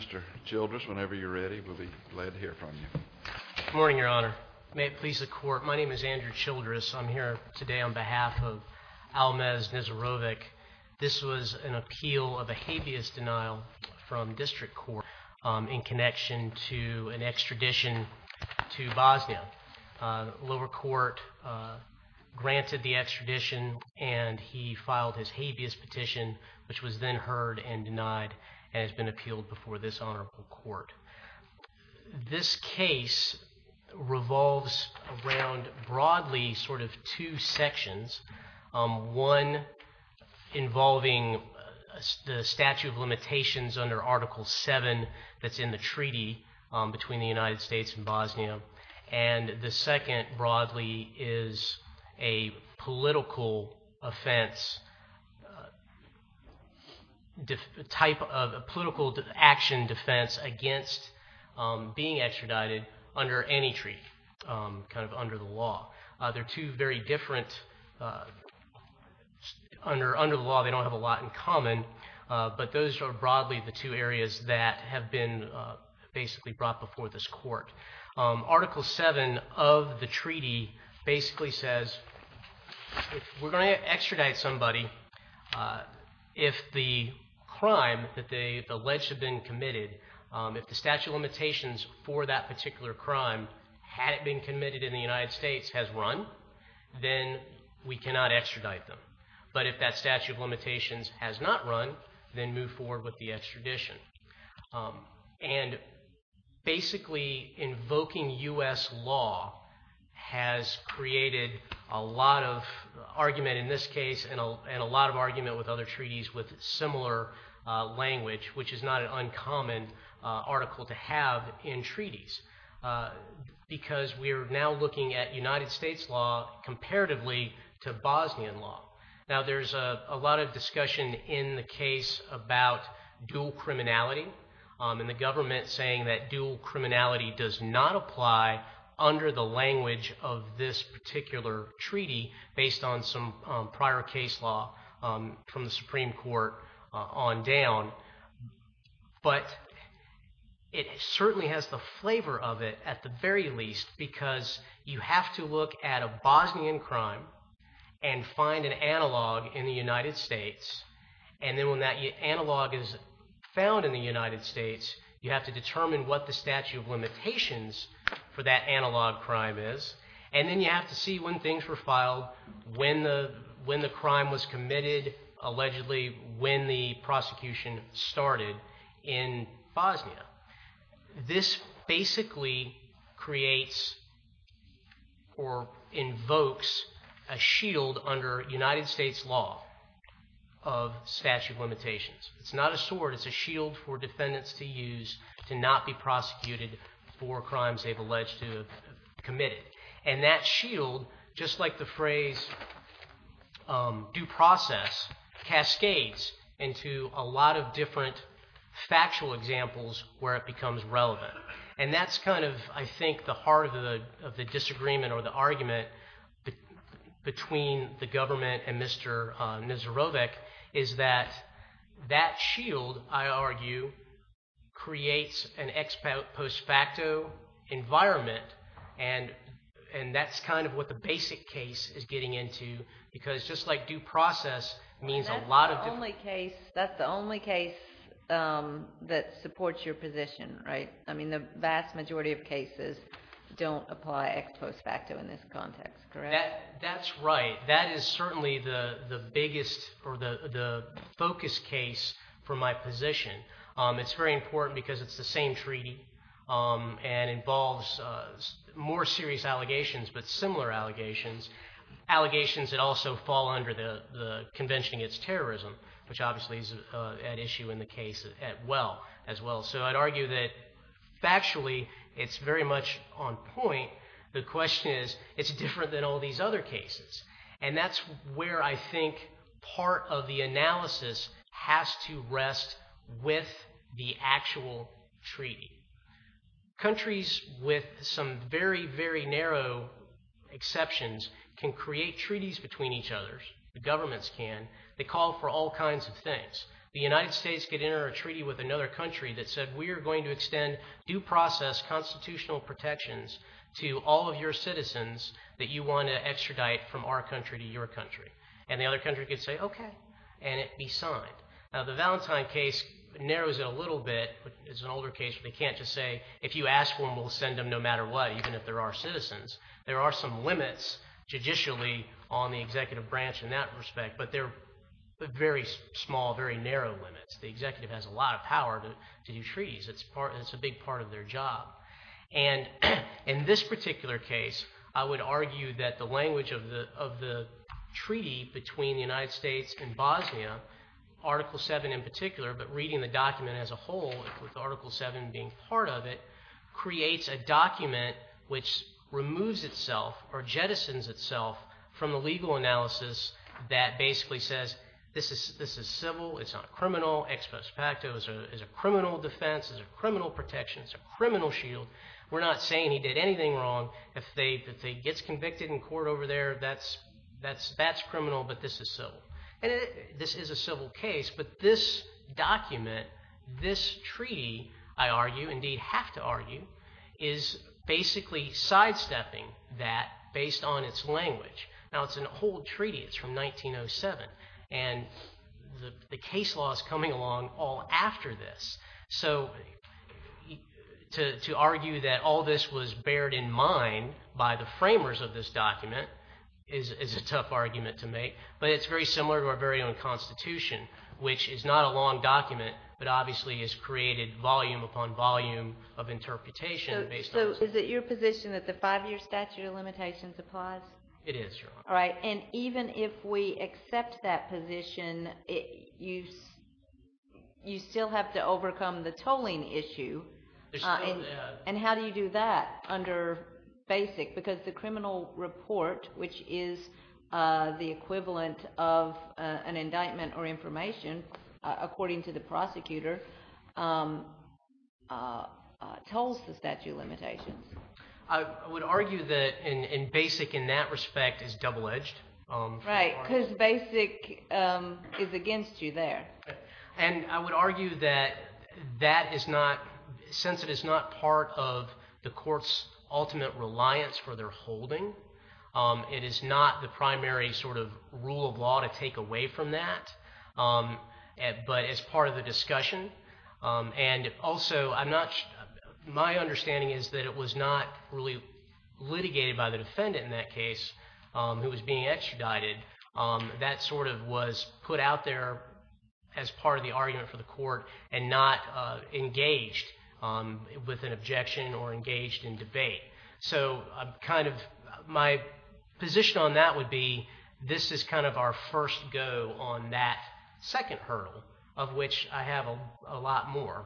Mr. Childress, whenever you're ready, we'll be glad to hear from you. Good morning, Your Honor. May it please the Court, my name is Andrew Childress. I'm here today on behalf of Almaz Nezirovic. This was an appeal of a habeas denial from district court in connection to an extradition to Bosnia. The lower court granted the extradition and he filed his habeas petition which was then heard and denied and has been appealed before this honorable court. This case revolves around broadly sort of two sections. One involving the statute of limitations under Article 7 that's in the treaty between the United States and Bosnia and the second broadly is a political offense, type of political action defense against being extradited under any treaty, kind of under the law. They're two very different, under the law they don't have a lot in common but those are broadly the two areas that have been basically brought before this court. Article 7 of the treaty basically says if we're going to extradite somebody, if the crime that they've alleged have been committed, if the statute of limitations for that particular crime had it been committed in the United States has run, then we cannot extradite them. But if that statute of limitations has not run, then move forward with the extradition. And basically invoking U.S. law has created a lot of argument in this case and a lot of argument with other treaties with similar language which is not an uncommon article to have in treaties because we are now looking at United States law comparatively to Bosnian law. Now there's a lot discussion in the case about dual criminality and the government saying that dual criminality does not apply under the language of this particular treaty based on some prior case law from the Supreme Court on down. But it certainly has the flavor of it at the very least because you have to look at a Bosnian crime and find an analog in the United States. And then when that analog is found in the United States, you have to determine what the statute of limitations for that analog crime is. And then you have to see when things were filed, when the crime was or invokes a shield under United States law of statute of limitations. It's not a sword, it's a shield for defendants to use to not be prosecuted for crimes they've alleged to committed. And that shield, just like the phrase due process, cascades into a lot of different disagreements or the argument between the government and Mr. Nazarovic is that that shield, I argue, creates an ex post facto environment. And that's kind of what the basic case is getting into because just like due process means a lot of... That's the only case that supports your position, right? I mean, the vast majority of cases don't apply ex post facto in this context, correct? That's right. That is certainly the biggest or the focus case for my position. It's very important because it's the same treaty and involves more serious allegations, but similar allegations. Allegations that also fall under the convention against terrorism, which obviously is at issue in the case as well. So I'd argue that factually, it's very much on point. The question is, it's different than all these other cases. And that's where I think part of the analysis has to rest with the actual treaty. Countries with some very, very narrow exceptions can create treaties between each other. The governments can. They call for all kinds of things. The United States could enter a treaty with another country that said, we are going to extend due process constitutional protections to all of your citizens that you want to extradite from our country to your country. And the other country could say, okay, and it be signed. Now the Valentine case narrows it a little bit, but it's an older case where they can't just say, if you ask for them, we'll send them no matter what, even if there are citizens. There are some limits judicially on the executive branch in that respect, but they're very small, very narrow limits. The executive has a lot of power to do treaties. It's a big part of their job. And in this particular case, I would argue that the language of the treaty between the United States and Bosnia, Article 7 in particular, but reading the document as a whole with Article 7 being part of it, creates a document which removes itself or jettisons itself from the legal analysis that basically says, this is civil. It's not criminal. Ex post facto is a criminal defense. It's a criminal protection. It's a criminal shield. We're not saying he did anything wrong. If he gets convicted in court over there, that's criminal, but this is civil. And this is a civil case. But this document, this treaty, I argue, indeed have to argue, is basically sidestepping that based on its language. Now, it's an old treaty. It's from 1907. And the case law is coming along all after this. So to argue that all this was bared in mind by the framers of this which is not a long document, but obviously has created volume upon volume of interpretation. So is it your position that the five-year statute of limitations applies? It is, Your Honor. All right. And even if we accept that position, you still have to overcome the tolling issue. And how do you do that under BASIC? Because the criminal report, which is the equivalent of an indictment or information, according to the prosecutor, tolls the statute of limitations. I would argue that BASIC in that respect is double-edged. Right, because BASIC is against you there. And I would argue that that is not, since it is not part of the court's ultimate reliance for their holding, it is not the primary rule of law to take away from that, but as part of the discussion. And also, my understanding is that it was not really litigated by the defendant in that case who was being extradited. That was put out there as part of the argument for the court and not engaged with an objection or engaged in debate. So kind of my position on that would be this is kind of our first go on that second hurdle, of which I have a lot more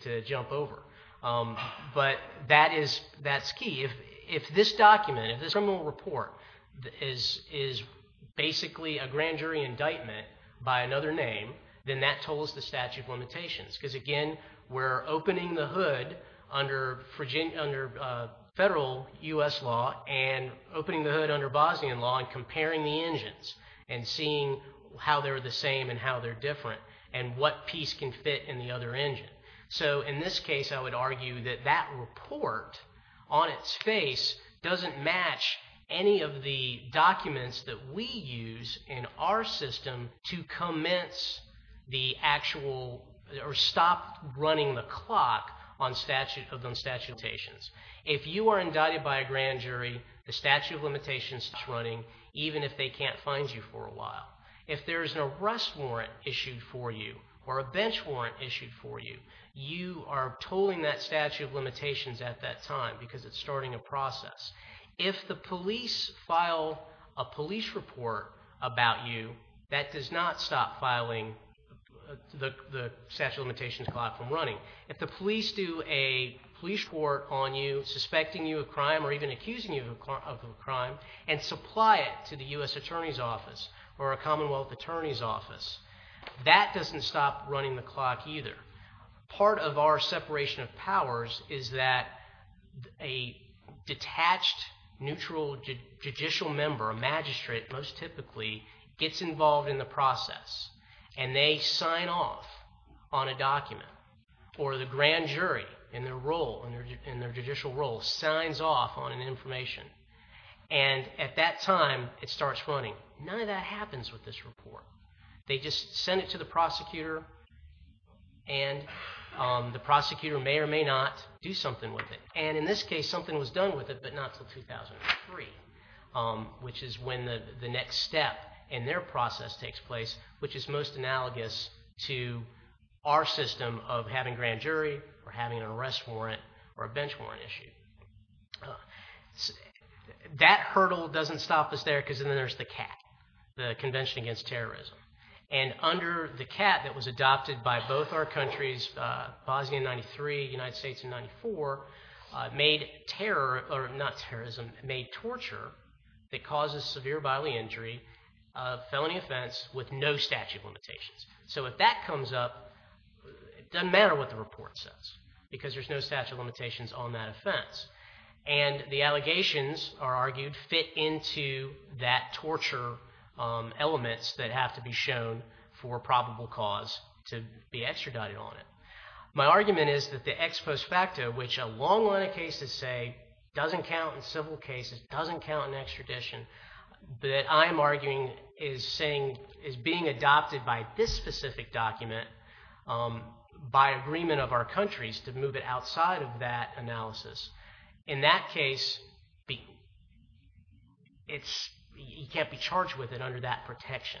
to jump over. But that is, that's key. If this document, if this criminal report is basically a grand jury indictment by another name, then that tolls the statute of limitations. Because again, we're opening the hood under federal U.S. law and opening the hood under Bosnian law and comparing the engines and seeing how they're the same and how they're different and what piece can fit in the other engine. So in this case, I would argue that that report on its face doesn't match any of the documents that we use in our system to commence the actual, or stop running the clock on statute, of those statutations. If you are indicted by a grand jury, the statute of limitations is running, even if they can't find you for a while. If there is an arrest warrant issued for you or a bench warrant issued for you, you are tolling that statute of limitations at that time because it's starting a process. If the police file a police report about you, that does not stop filing the statute of limitations clock from running. If the police do a police report on you, suspecting you of crime or even accusing you of a crime and supply it to the U.S. Attorney's Office or a Commonwealth Attorney's Office, that doesn't stop running the clock either. Part of our separation of powers is that a detached neutral judicial member, a magistrate most typically, gets involved in the process and they sign off on a document or the grand jury in their role, in their judicial role, signs off on an information. And at that time, it starts running. None of that happens with this report. They just send it to the prosecutor and the prosecutor may or may not do something with it. And in this case, something was done with it, but not until 2003, which is when the next step in their process takes place, which is most analogous to our system of having grand jury or having an arrest warrant or a bench warrant issue. That hurdle doesn't stop us there because then there's the CAT, the Convention Against Terrorism. And under the CAT that was adopted by both our countries, Bosnia in 93, United States in 94, made terror, or not terrorism, made torture, that causes severe bodily injury, a felony offense with no statute of limitations. So if that comes up, it doesn't matter what the report says because there's no statute of limitations on that offense. And the allegations are argued fit into that torture elements that have to be shown for probable cause to be extradited on it. My argument is that the ex post facto, which a long line of cases say doesn't count in civil cases, doesn't count in extradition, that I'm arguing is being adopted by this specific document by agreement of our countries to move it outside of that analysis. In that case, it's, you can't be charged with it under that protection.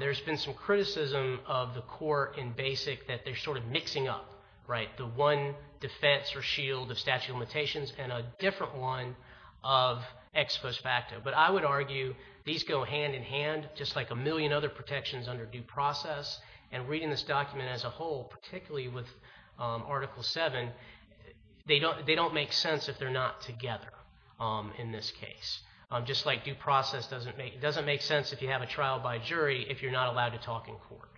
There's been some criticism of the court in BASIC that they're sort of mixing up, right, the one defense or shield of statute of limitations and a different one of ex post facto. But I would argue these go hand in hand just like a million other protections under due process. And reading this document as a whole, particularly with Article 7, they don't make sense if they're not together in this case. Just like due process doesn't make sense if you have a trial by jury if you're not allowed to talk in court.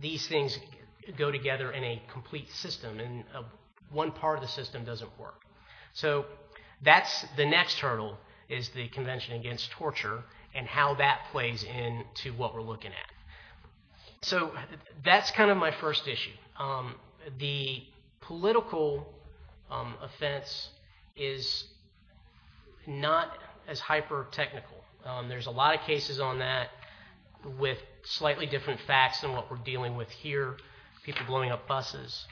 These things go together in a complete system and one part of the system doesn't work. So that's the next hurdle is the Convention Against Torture and how that plays into what we're looking at. So that's kind of my first issue. The political offense is not as hyper technical. There's a lot of cases on that with slightly different facts than what we're dealing with here, people blowing up buses,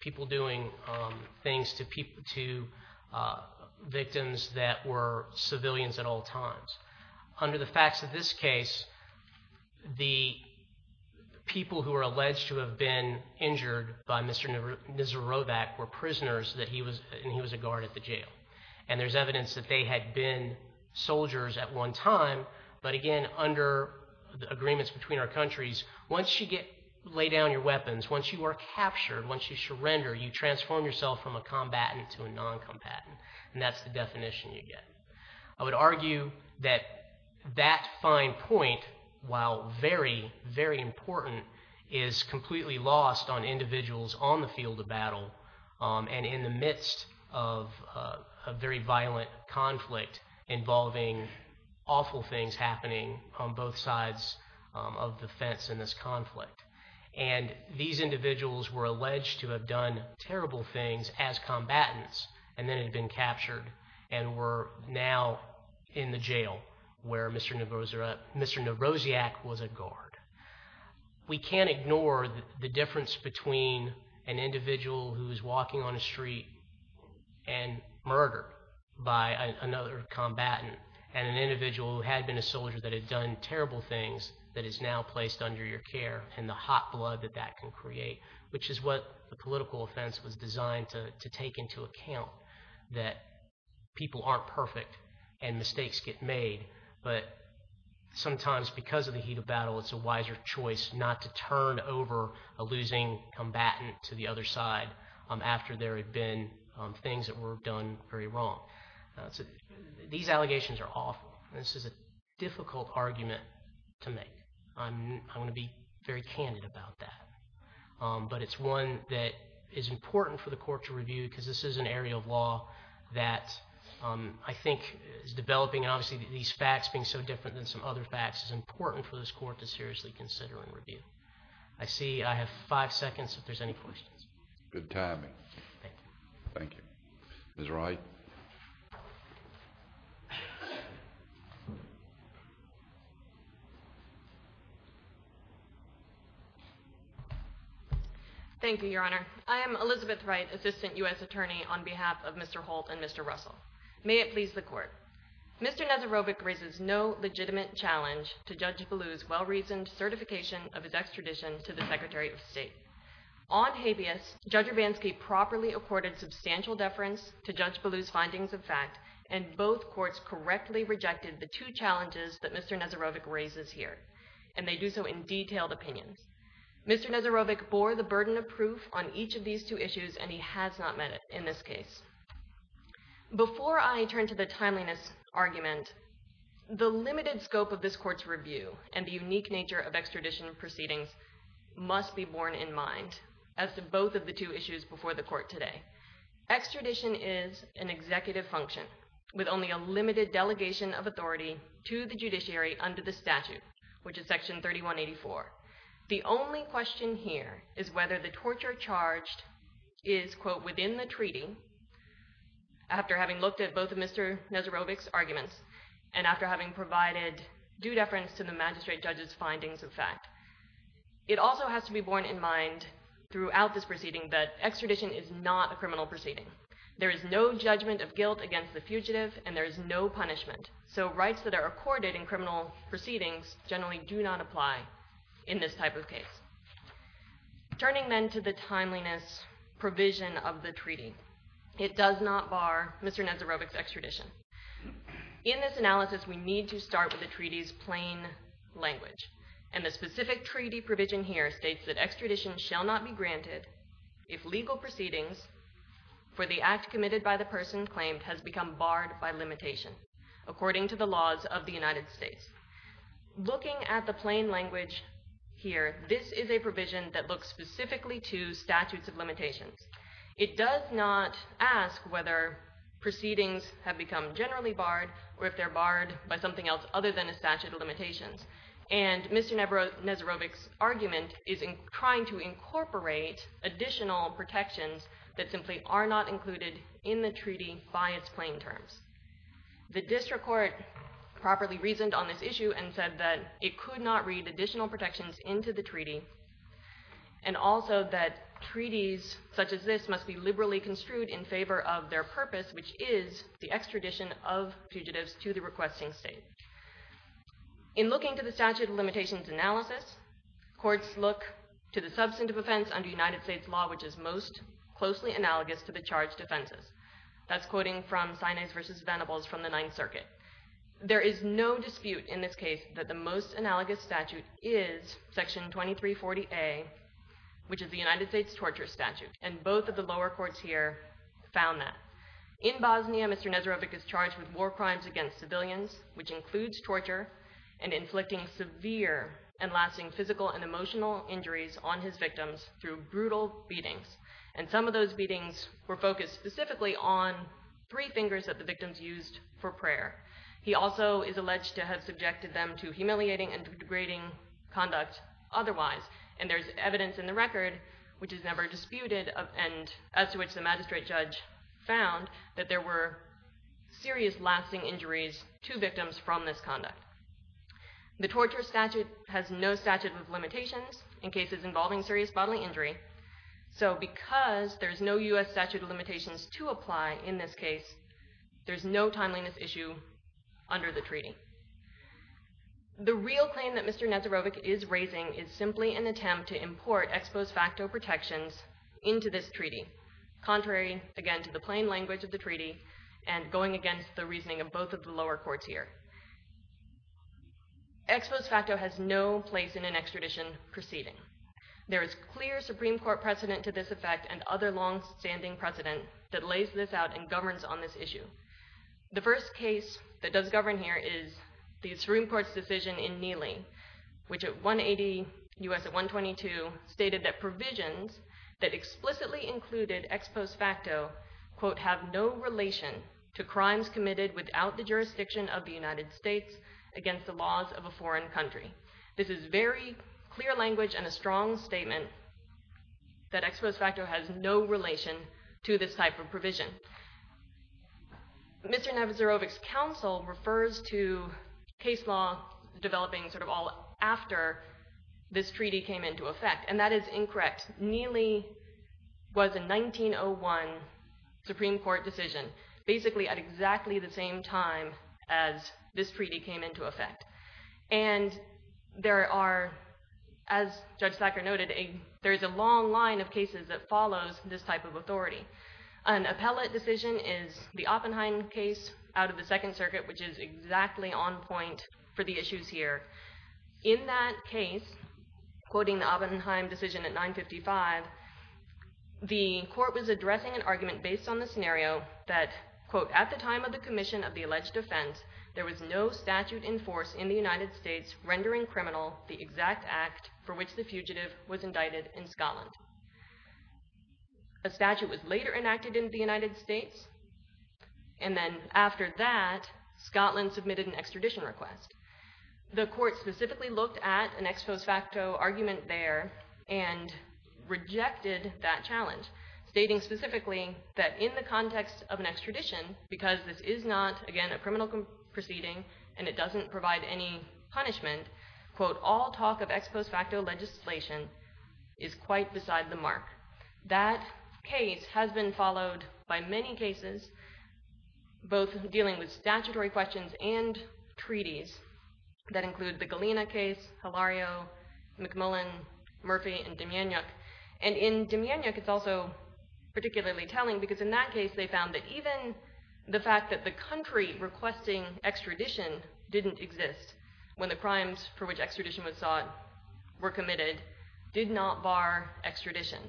people doing things to victims that were civilians at all times. Under the facts of this case, the people who are alleged to have been injured by Mr. Nizarovac were prisoners and he was a guard at the jail. And there's evidence that they had been soldiers at one time. But again, under the agreements between our countries, once you get laid down your weapons, once you are captured, once you surrender, you transform yourself from that fine point, while very, very important, is completely lost on individuals on the field of battle and in the midst of a very violent conflict involving awful things happening on both sides of the fence in this conflict. And these individuals were alleged to have done where Mr. Niroziak was a guard. We can't ignore the difference between an individual who's walking on a street and murdered by another combatant and an individual who had been a soldier that had done terrible things that is now placed under your care and the hot blood that that can create, which is what the political offense was designed to take into account, that people aren't perfect and mistakes get made. But sometimes because of the heat of battle, it's a wiser choice not to turn over a losing combatant to the other side after there have been things that were done very wrong. These allegations are awful. This is a difficult argument to make. I'm going to be very candid about that. But it's one that is important for the court to review because this is an area of law that I think is developing. Obviously, these facts being so different than some other facts is important for this court to seriously consider and review. I see I have five seconds if there's any questions. Good timing. Thank you. Thank you. Ms. Wright. Thank you, Your Honor. I am Elizabeth Wright, Assistant U.S. Attorney on behalf of Mr. Holt and Mr. Russell. May it please the court. Mr. Nazarovic raises no legitimate challenge to Judge Ballou's well-reasoned certification of his extradition to the Secretary of State. On habeas, Judge Urbanski properly accorded substantial deference to Judge Ballou's findings of fact, and both courts correctly rejected the two challenges that Mr. Nazarovic raises here, and they do so in detailed opinions. Mr. Nazarovic bore the burden of proof on each of these two issues, and he has not met it in this case. Before I turn to the timeliness argument, the limited scope of this court's review and the unique nature of extradition proceedings must be borne in mind as to both of the two issues before the court today. Extradition is an executive function with only a limited delegation of authority to the judiciary under the statute, which is Section 3184. The only question here is whether the torture charged is, quote, within the treaty, after having looked at both of Mr. Nazarovic's arguments and after having provided due deference to the magistrate judge's findings of fact. It also has to be borne in mind throughout this proceeding that extradition is not a criminal proceeding. There is no judgment of guilt against the fugitive, and there is no punishment. So rights that are accorded in criminal proceedings generally do not apply in this type of case. Turning then to the timeliness provision of the treaty, it does not bar Mr. Nazarovic's extradition. In this analysis, we need to start with the treaty's plain language, and the specific treaty provision here states that extradition shall not be granted if legal proceedings for the act committed by the person claimed has become barred by limitation according to the laws of the United States. Looking at the plain language here, this is a provision that looks specifically to statutes of limitations. It does not ask whether proceedings have become generally barred or if they're barred by something else other than a statute of limitations. Mr. Nazarovic's argument is in trying to incorporate additional protections that simply are not included in the treaty by its plain terms. The district court properly reasoned on this issue and said that it could not read additional protections into the treaty, and also that treaties such as this must be liberally construed in favor of their purpose, which is the extradition of fugitives to the requesting state. In looking to the statute of limitations analysis, courts look to the substantive offense under United States law, which is most closely analogous to the charged offenses. That's quoting from Sinai's versus Venables from the Ninth Circuit. There is no dispute in this case that the most analogous statute is section 2340A, which is the United States torture statute, and both of the lower courts here found that. In Bosnia, Mr. Nazarovic is charged with war crimes against civilians, which includes torture, and inflicting severe and lasting physical and emotional injuries on his victims through brutal beatings, and some of those beatings were focused specifically on three fingers that the victims used for prayer. He also is alleged to have subjected them to humiliating and degrading conduct otherwise, and there's evidence in the record, which is never disputed, and as to which the magistrate judge found that there were serious lasting injuries to victims from this conduct. The torture statute has no statute of limitations in cases involving serious bodily injury, so because there's no U.S. statute of limitations to apply in this case, there's no timeliness issue under the treaty. The real claim that Mr. Nazarovic is raising is simply an attempt to import ex post facto protections into this treaty, contrary again the plain language of the treaty, and going against the reasoning of both of the lower courts here. Ex post facto has no place in an extradition proceeding. There is clear Supreme Court precedent to this effect and other long-standing precedent that lays this out and governs on this issue. The first case that does govern here is the Supreme Court's decision in Nili, which at 180 U.S. at 122, stated that provisions that explicitly included ex post facto, quote, have no relation to crimes committed without the jurisdiction of the United States against the laws of a foreign country. This is very clear language and a strong statement that ex post facto has no relation to this type of provision. Mr. Nazarovic's counsel refers to case law developing sort of all after this treaty came into effect, and that is incorrect. Nili was a 1901 Supreme Court decision, basically at exactly the same time as this treaty came into effect, and there are, as Judge Thacker noted, there is a long line of cases that follows this type of authority. An appellate decision is the Oppenheim case out of the Second Circuit, which is exactly on point for the issues here. In that case, quoting the Oppenheim decision at 955, the court was addressing an argument based on the scenario that, quote, at the time of the commission of the alleged offense, there was no statute in force in the United States rendering criminal the exact act for which the fugitive was indicted in Scotland. A statute was later enacted in the United States, and then after that, Scotland submitted an extradition request. The court specifically looked at an ex post facto argument there and rejected that challenge, stating specifically that in the context of an extradition, because this is not, again, a criminal proceeding and it doesn't provide any punishment, quote, all talk of ex post facto legislation is quite beside the mark. That case has been followed by many cases, both dealing with statutory questions and treaties that include the Galena case, Hilario, McMullen, Murphy, and Demyanyuk. And in Demyanyuk, it's also particularly telling because in that case, they found that even the fact that the country requesting extradition didn't exist when the committed did not bar extradition.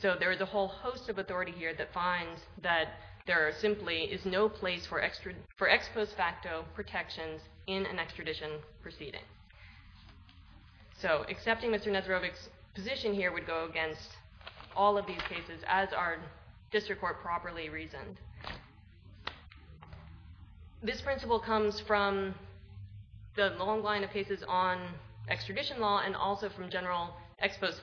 So there is a whole host of authority here that finds that there simply is no place for ex post facto protections in an extradition proceeding. So accepting Mr. Nesrovic's position here would go against all of these cases as our district court properly reasoned. This principle comes from the long line of cases on ex post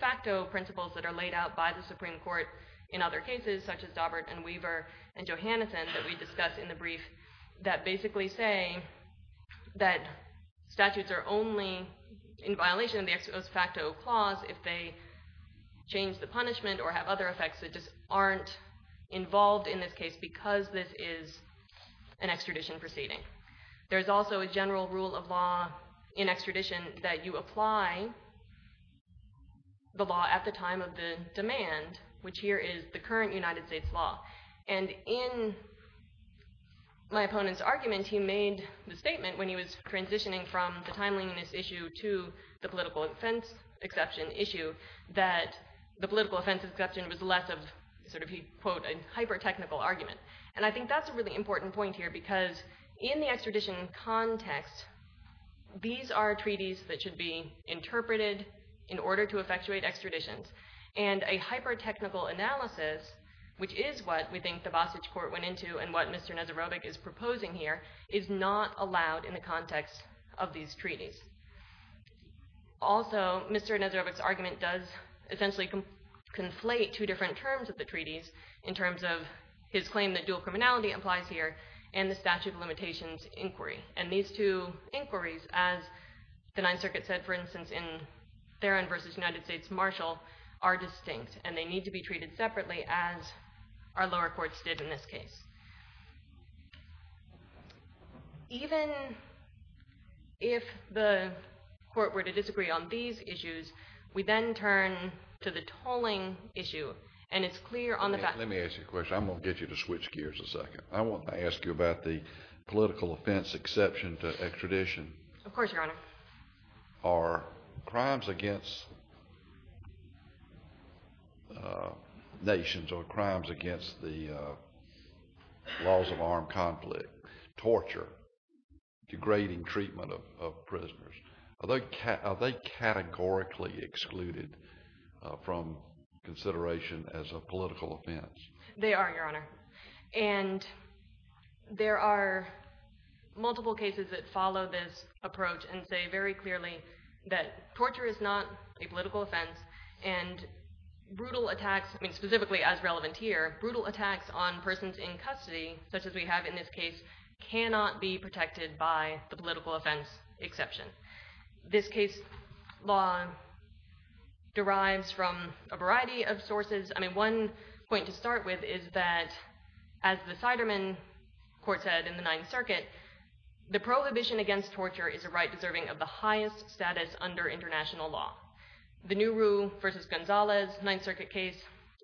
facto principles that are laid out by the Supreme Court in other cases, such as Daubert and Weaver and Johanneson that we discussed in the brief that basically say that statutes are only in violation of the ex post facto clause if they change the punishment or have other effects that just aren't involved in this case because this is an extradition proceeding. There's also a general rule of law in extradition that you apply the law at the time of the demand, which here is the current United States law. And in my opponent's argument, he made the statement when he was transitioning from the timeliness issue to the political offense exception issue that the political offense exception was less of sort of he quote a hyper technical argument. And I think that's a important point here because in the extradition context, these are treaties that should be interpreted in order to effectuate extraditions. And a hyper technical analysis, which is what we think the Vosage court went into and what Mr. Nesrovic is proposing here, is not allowed in the context of these treaties. Also, Mr. Nesrovic's argument does essentially conflate two different terms of the treaties in terms of his claim that dual criminality applies here and the statute of limitations inquiry. And these two inquiries, as the ninth circuit said, for instance, in Theron versus United States Marshall are distinct and they need to be treated separately as our lower courts did in this case. Even if the court were to disagree on these issues, we then turn to the tolling issue and it's clear on the back. Let me ask you a question. I'm going to get you to switch gears a second. I want to ask you about the political offense exception to extradition. Of course, Your Honor. Are crimes against nations or crimes against the laws of armed conflict, torture, degrading treatment of prisoners, are they categorically excluded from consideration as a political offense? They are, Your Honor. And there are multiple cases that follow this approach and say very clearly that torture is not a political offense. This case law derives from a variety of sources. I mean, one point to start with is that as the Siderman court said in the ninth circuit, the prohibition against torture is a right deserving of the highest status under international law. The new rule versus Gonzalez ninth circuit case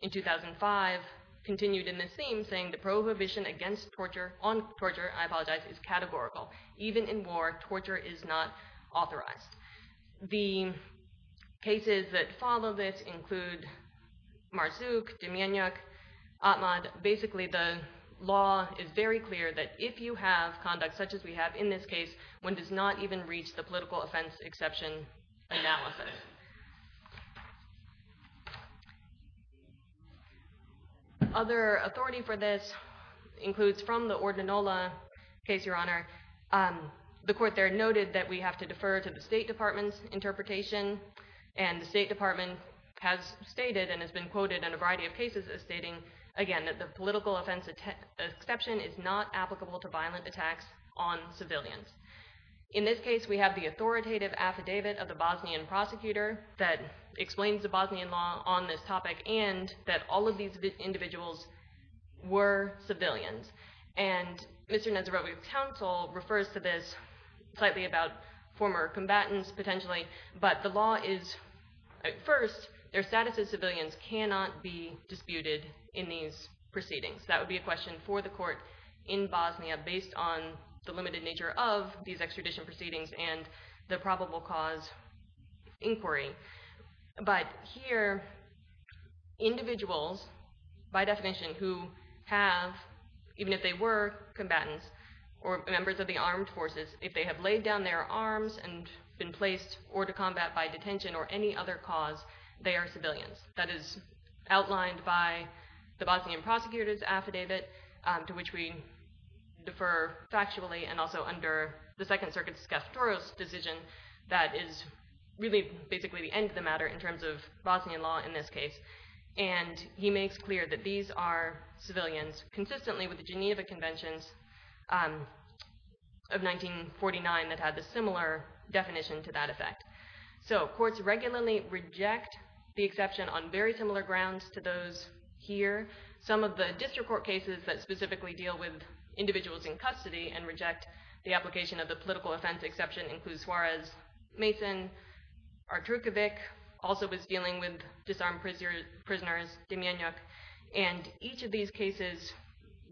in 2005 continued in this theme saying the prohibition against torture, on torture, I apologize, is categorical. Even in war, torture is not authorized. The cases that follow this include Marsuk, Demyanyuk, Atmad. Basically, the law is very clear that if you have conduct such as we have in this case, one does not even reach the political offense exception analysis. The other authority for this includes from the Ordinola case, Your Honor. The court there noted that we have to defer to the State Department's interpretation. And the State Department has stated and has been quoted in a variety of cases as stating, again, that the political offense exception is not applicable to violent attacks on civilians. In this case, we have the authoritative affidavit of the Bosnian prosecutor that explains the Bosnian law on this topic and that all of these individuals were civilians. And Mr. Nezirovic's counsel refers to this slightly about former combatants potentially, but the law is at first, their status as civilians cannot be disputed in these proceedings. That would be a question for the court in Bosnia based on the limited nature of these extradition proceedings and the probable cause inquiry. But here, individuals, by definition, who have, even if they were combatants or members of the armed forces, if they have laid down their arms and been placed or to combat by detention or any other cause, they are civilians. That is outlined by the Bosnian prosecutor's affidavit to which we defer factually and also under the Second Circuit's Skeptoros decision that is really basically the end of the matter in terms of Bosnian law in this case. And he makes clear that these are civilians, consistently with the Geneva Conventions of 1949 that had a similar definition to that effect. So courts regularly reject the exception on very similar grounds to here. Some of the district court cases that specifically deal with individuals in custody and reject the application of the political offense exception includes Suarez, Mason, Artrukovic, also was dealing with disarmed prisoners, Demyanyuk. And each of these cases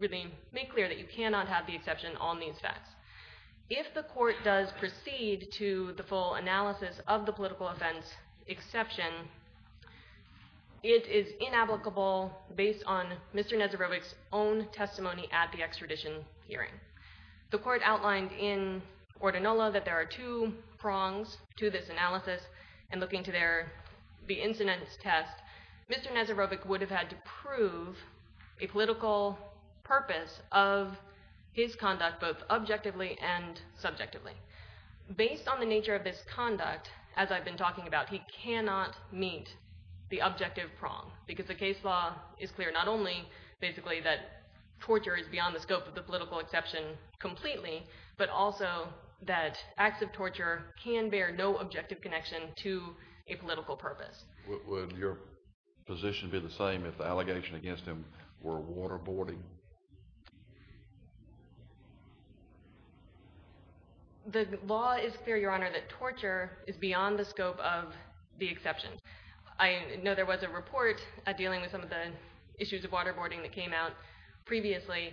really make clear that you cannot have the exception on these facts. If the court does proceed to the full analysis of the political offense exception, it is inapplicable based on Mr. Nesorovic's own testimony at the extradition hearing. The court outlined in Ordinola that there are two prongs to this analysis and looking to the incidence test, Mr. Nesorovic would have had to prove a political purpose of his conduct, both objectively and subjectively. Based on the nature of this conduct, as I've been talking about, he cannot meet the objective prong because the case law is clear not only basically that torture is beyond the scope of the political exception completely, but also that acts of torture can bear no objective connection to a political purpose. Would your position be the same if the allegation against him were waterboarding? The law is clear, Your Honor, that torture is beyond the scope of the exception. I know there was a report dealing with some of the issues of waterboarding that came out previously.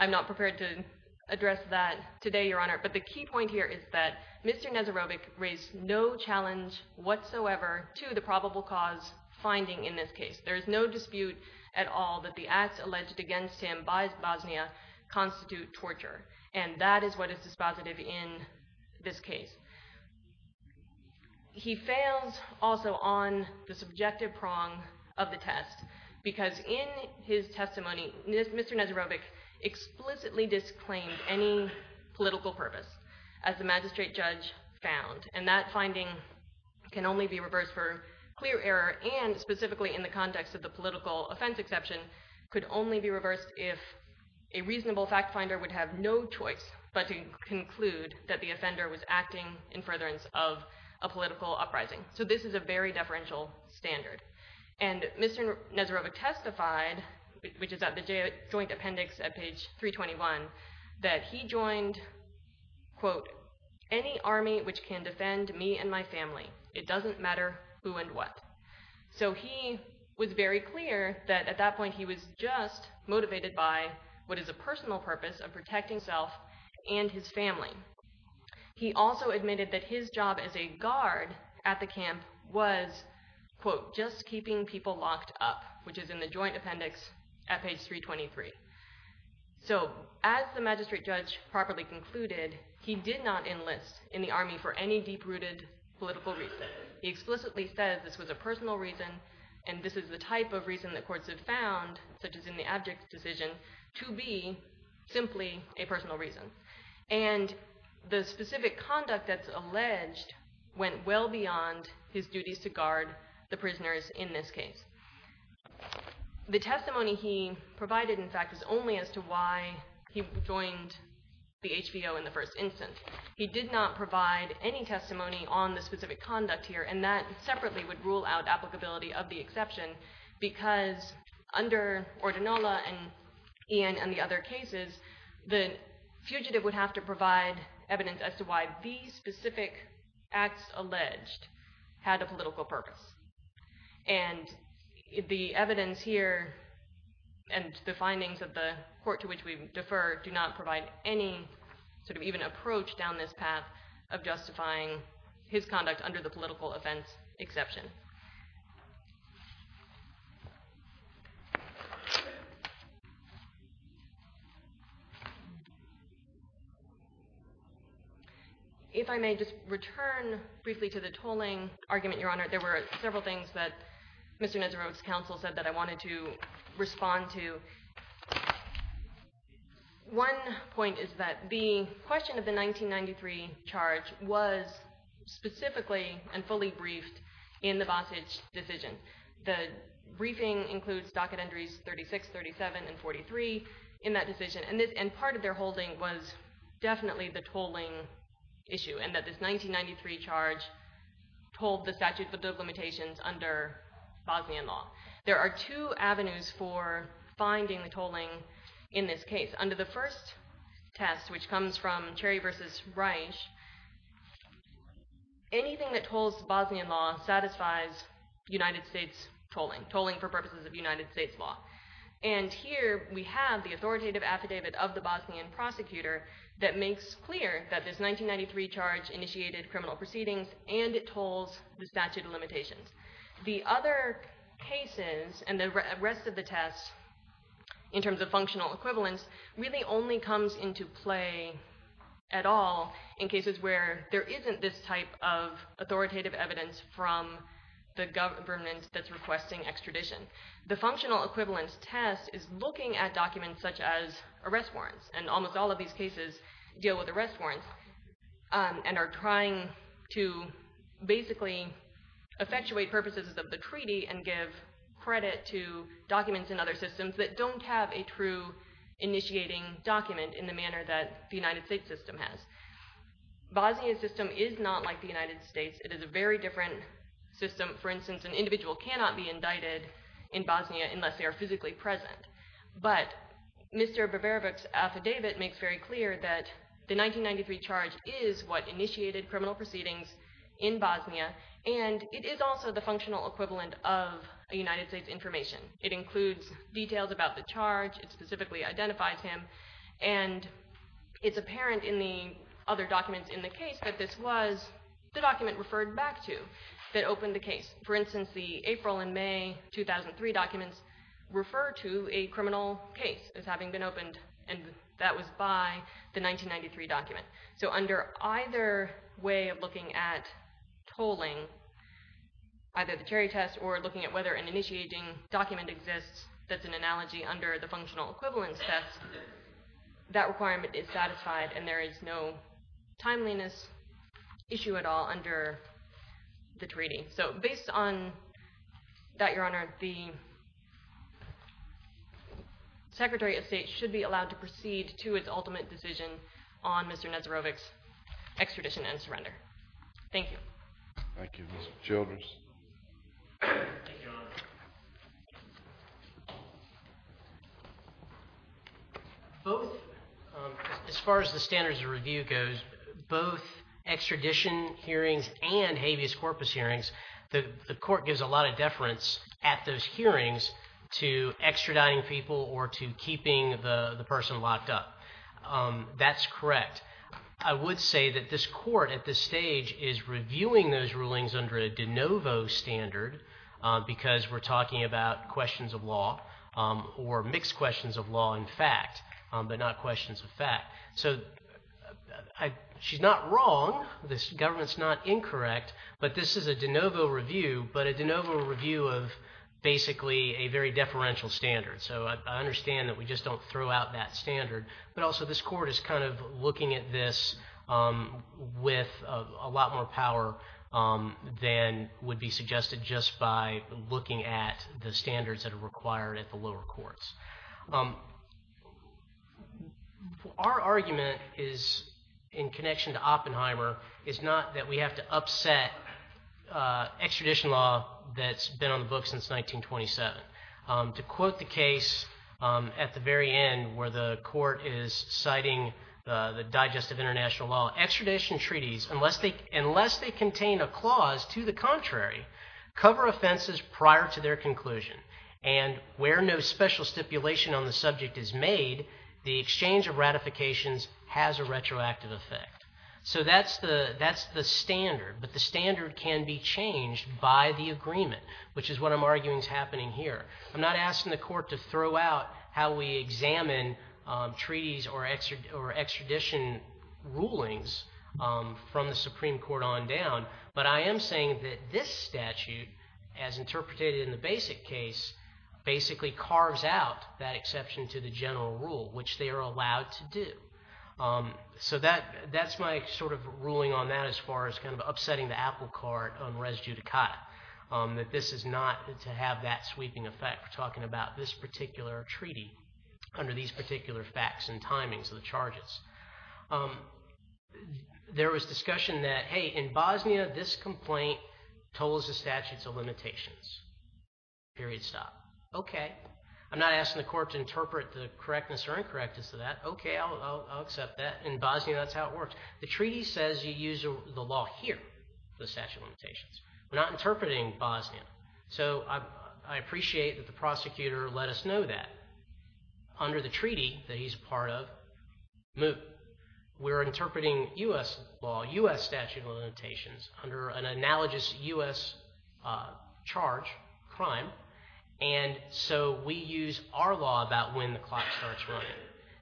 I'm not prepared to address that today, Your Honor, but the key point here is that Mr. Nesorovic raised no challenge whatsoever to the probable cause finding in this case. There is no dispute at all that the acts alleged against him by Bosnia constitute torture, and that is what is dispositive in this case. He fails also on the subjective prong of the test because in his testimony, Mr. Nesorovic explicitly disclaimed any political purpose as the magistrate judge found, and that finding can only be reversed for clear error and specifically in the context of the political offense exception, could only be reversed if a reasonable fact finder would have no choice but to conclude that the offender was acting in furtherance of a political uprising. So this is a very deferential standard, and Mr. Nesorovic testified, which is at the Joint Appendix at page 321, that he joined, quote, any army which can defend me and my family. It doesn't matter who and what. So he was very clear that at that point he was just motivated by what is a personal purpose of protecting self and his family. He also admitted that his job as a guard at the camp was, quote, just keeping people locked up, which is in the Joint Appendix at page 323. So as the magistrate judge properly concluded, he did not enlist in the army for any deep-rooted political reason. He explicitly says this was a personal reason, and this is the type of reason that courts have found, such as in the abject decision, to be simply a personal reason. And the specific conduct that's alleged went well beyond his duties to guard the prisoners in this case. The testimony he provided, in fact, is only as to why he joined the HVO in the first instance. He did not provide any testimony on the specific conduct here, and that separately would rule out applicability of the exception, because under Ordinola and Ian and the other cases, the fugitive would have to provide evidence as to why these specific acts alleged had a political purpose. And the evidence here and the findings of the court to which we defer do not provide any sort of even approach down this path of justifying his conduct under the political offense exception. If I may just return briefly to the tolling argument, Your Honor, there were several things that Mr. Nesero's counsel said that I wanted to respond to. One point is that the question of the 1993 charge was specifically and fully briefed in the Bostitch decision. The briefing includes docket entries 36, 37, and 43 in that decision, and part of their holding was definitely the tolling issue, and that this 1993 charge told the statute of limitations under Bosnian law. There are two avenues for finding the tolling in this case. Under the first test, which comes from Cherry v. Reich, anything that tolls Bosnian law satisfies United States tolling, tolling for purposes of United States law. And here we have the authoritative affidavit of the Bosnian prosecutor that makes clear that this 1993 charge initiated criminal proceedings and it tolls the statute of limitations in terms of functional equivalence really only comes into play at all in cases where there isn't this type of authoritative evidence from the government that's requesting extradition. The functional equivalence test is looking at documents such as arrest warrants, and almost all of these cases deal with arrest warrants, and are trying to basically effectuate purposes of the treaty and give credit to documents in other systems that don't have a true initiating document in the manner that the United States system has. Bosnia's system is not like the United States. It is a very different system. For instance, an individual cannot be indicted in Bosnia unless they are physically present, but Mr. Bavarovic's affidavit makes very clear that the 1993 charge is what initiated criminal proceedings in Bosnia, and it is also the functional equivalent of a United States information. It includes details about the charge, it specifically identifies him, and it's apparent in the other documents in the case that this was the document referred back to that opened the case. For instance, the April and May 2003 documents refer to a criminal case as having been opened, and that was by the 1993 document. So under either way of looking at tolling, either the cherry test or looking at whether an initiating document exists that's an analogy under the functional equivalence test, that requirement is satisfied and there is no timeliness issue at all under the treaty. So based on that, Your Honor, the Secretary of State should be allowed to proceed to its ultimate decision on Mr. Nazarovic's extradition and surrender. Thank you. Thank you. Mr. Childress. Both, as far as the standards of review goes, both extradition hearings and habeas corpus hearings, the court gives a lot of deference at those hearings to extraditing people or to keeping the person locked up. That's correct. I would say that this court at this stage is reviewing those rulings under a de novo standard because we're talking about questions of law or mixed questions of law in fact, but not questions of fact. So she's not wrong, this government's not incorrect, but this is a de novo review, but a de novo review of basically a very deferential standard. So I understand that we just don't throw out that standard, but also this court is kind of looking at this with a lot more power than would be suggested just by looking at the standards that are required at the lower courts. Our argument is, in connection to Oppenheimer, is not that we have to upset extradition law that's been on the books since 1927. To quote the case at the very end where the court is citing the Digestive International Law, extradition treaties, unless they contain a clause to the contrary, cover offenses prior to their conclusion. And where no special stipulation on the subject is made, the exchange of ratifications has a retroactive effect. So that's the standard, but the standard can be changed by the agreement, which is what I'm arguing is happening here. I'm not asking the court to throw out how we examine treaties or extradition rulings from the Supreme Court on down, but I am saying that this statute, as interpreted in the basic case, basically carves out that allowed to do. So that's my sort of ruling on that as far as kind of upsetting the apple cart on res judicata, that this is not to have that sweeping effect. We're talking about this particular treaty under these particular facts and timings of the charges. There was discussion that, hey, in Bosnia, this complaint tolls the statutes of limitations. Period. Stop. Okay. I'm not asking the court to interpret the correctness or incorrectness of that. Okay. I'll accept that. In Bosnia, that's how it works. The treaty says you use the law here, the statute of limitations. We're not interpreting Bosnia. So I appreciate that the prosecutor let us know that. Under the treaty that he's part of, we're interpreting US law, US statute of limitations under an analogous US charge, crime. And so we use our law about when the clock starts running.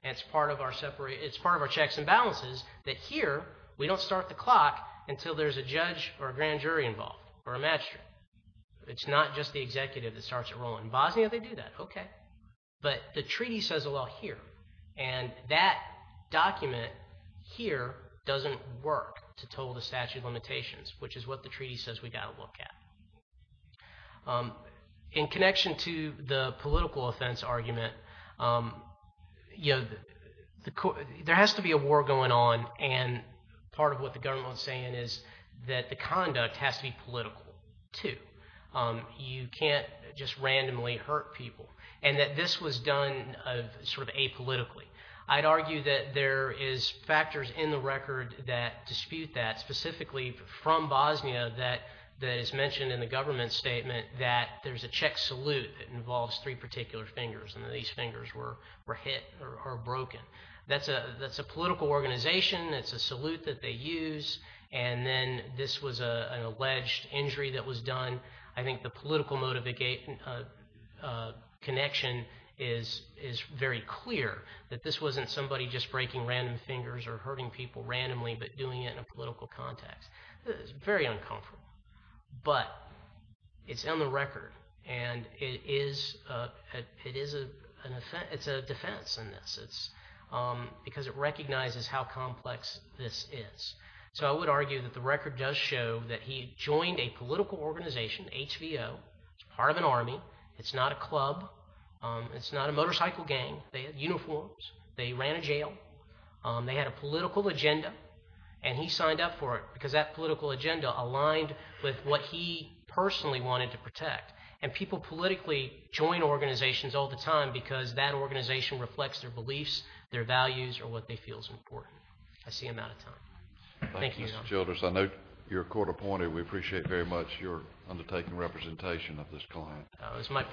And it's part of our checks and balances that here, we don't start the clock until there's a judge or a grand jury involved or a magistrate. It's not just the executive that starts it rolling. In Bosnia, they do that. Okay. But the treaty says the law here. And that document here doesn't work to toll the statute of limitations, which is what the treaty says we got to look at. In connection to the political offense argument, there has to be a war going on. And part of what the government was saying is that the conduct has to be political too. You can't just randomly hurt people. And that this was done sort of apolitically. I'd argue that there is factors in the record that dispute that specifically from Bosnia that is mentioned in the government statement that there's a check salute that involves three particular fingers. And these fingers were hit or broken. That's a political organization. That's a salute that they use. And then this was an alleged injury that was done. I think the political connection is very clear that this wasn't somebody just breaking random fingers or hurting people randomly, but doing it in a political context. It's very uncomfortable. But it's on the record. And it is a defense in this. Because it recognizes how complex this is. So I would argue that the record does show that he joined a political organization, HVO. It's part of an army. It's not a club. It's not a motorcycle gang. They had uniforms. They ran a jail. They had a political agenda. And he signed up for it because that political agenda aligned with what he personally wanted to protect. And people politically join organizations all the time because that organization reflects their beliefs, their values, or what they feel is important. I see I'm out of time. Thank you. Thank you, Mr. Childress. I know you're a we appreciate very much your undertaking representation of this client. It's my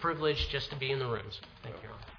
privilege just to be in the rooms. Thank you.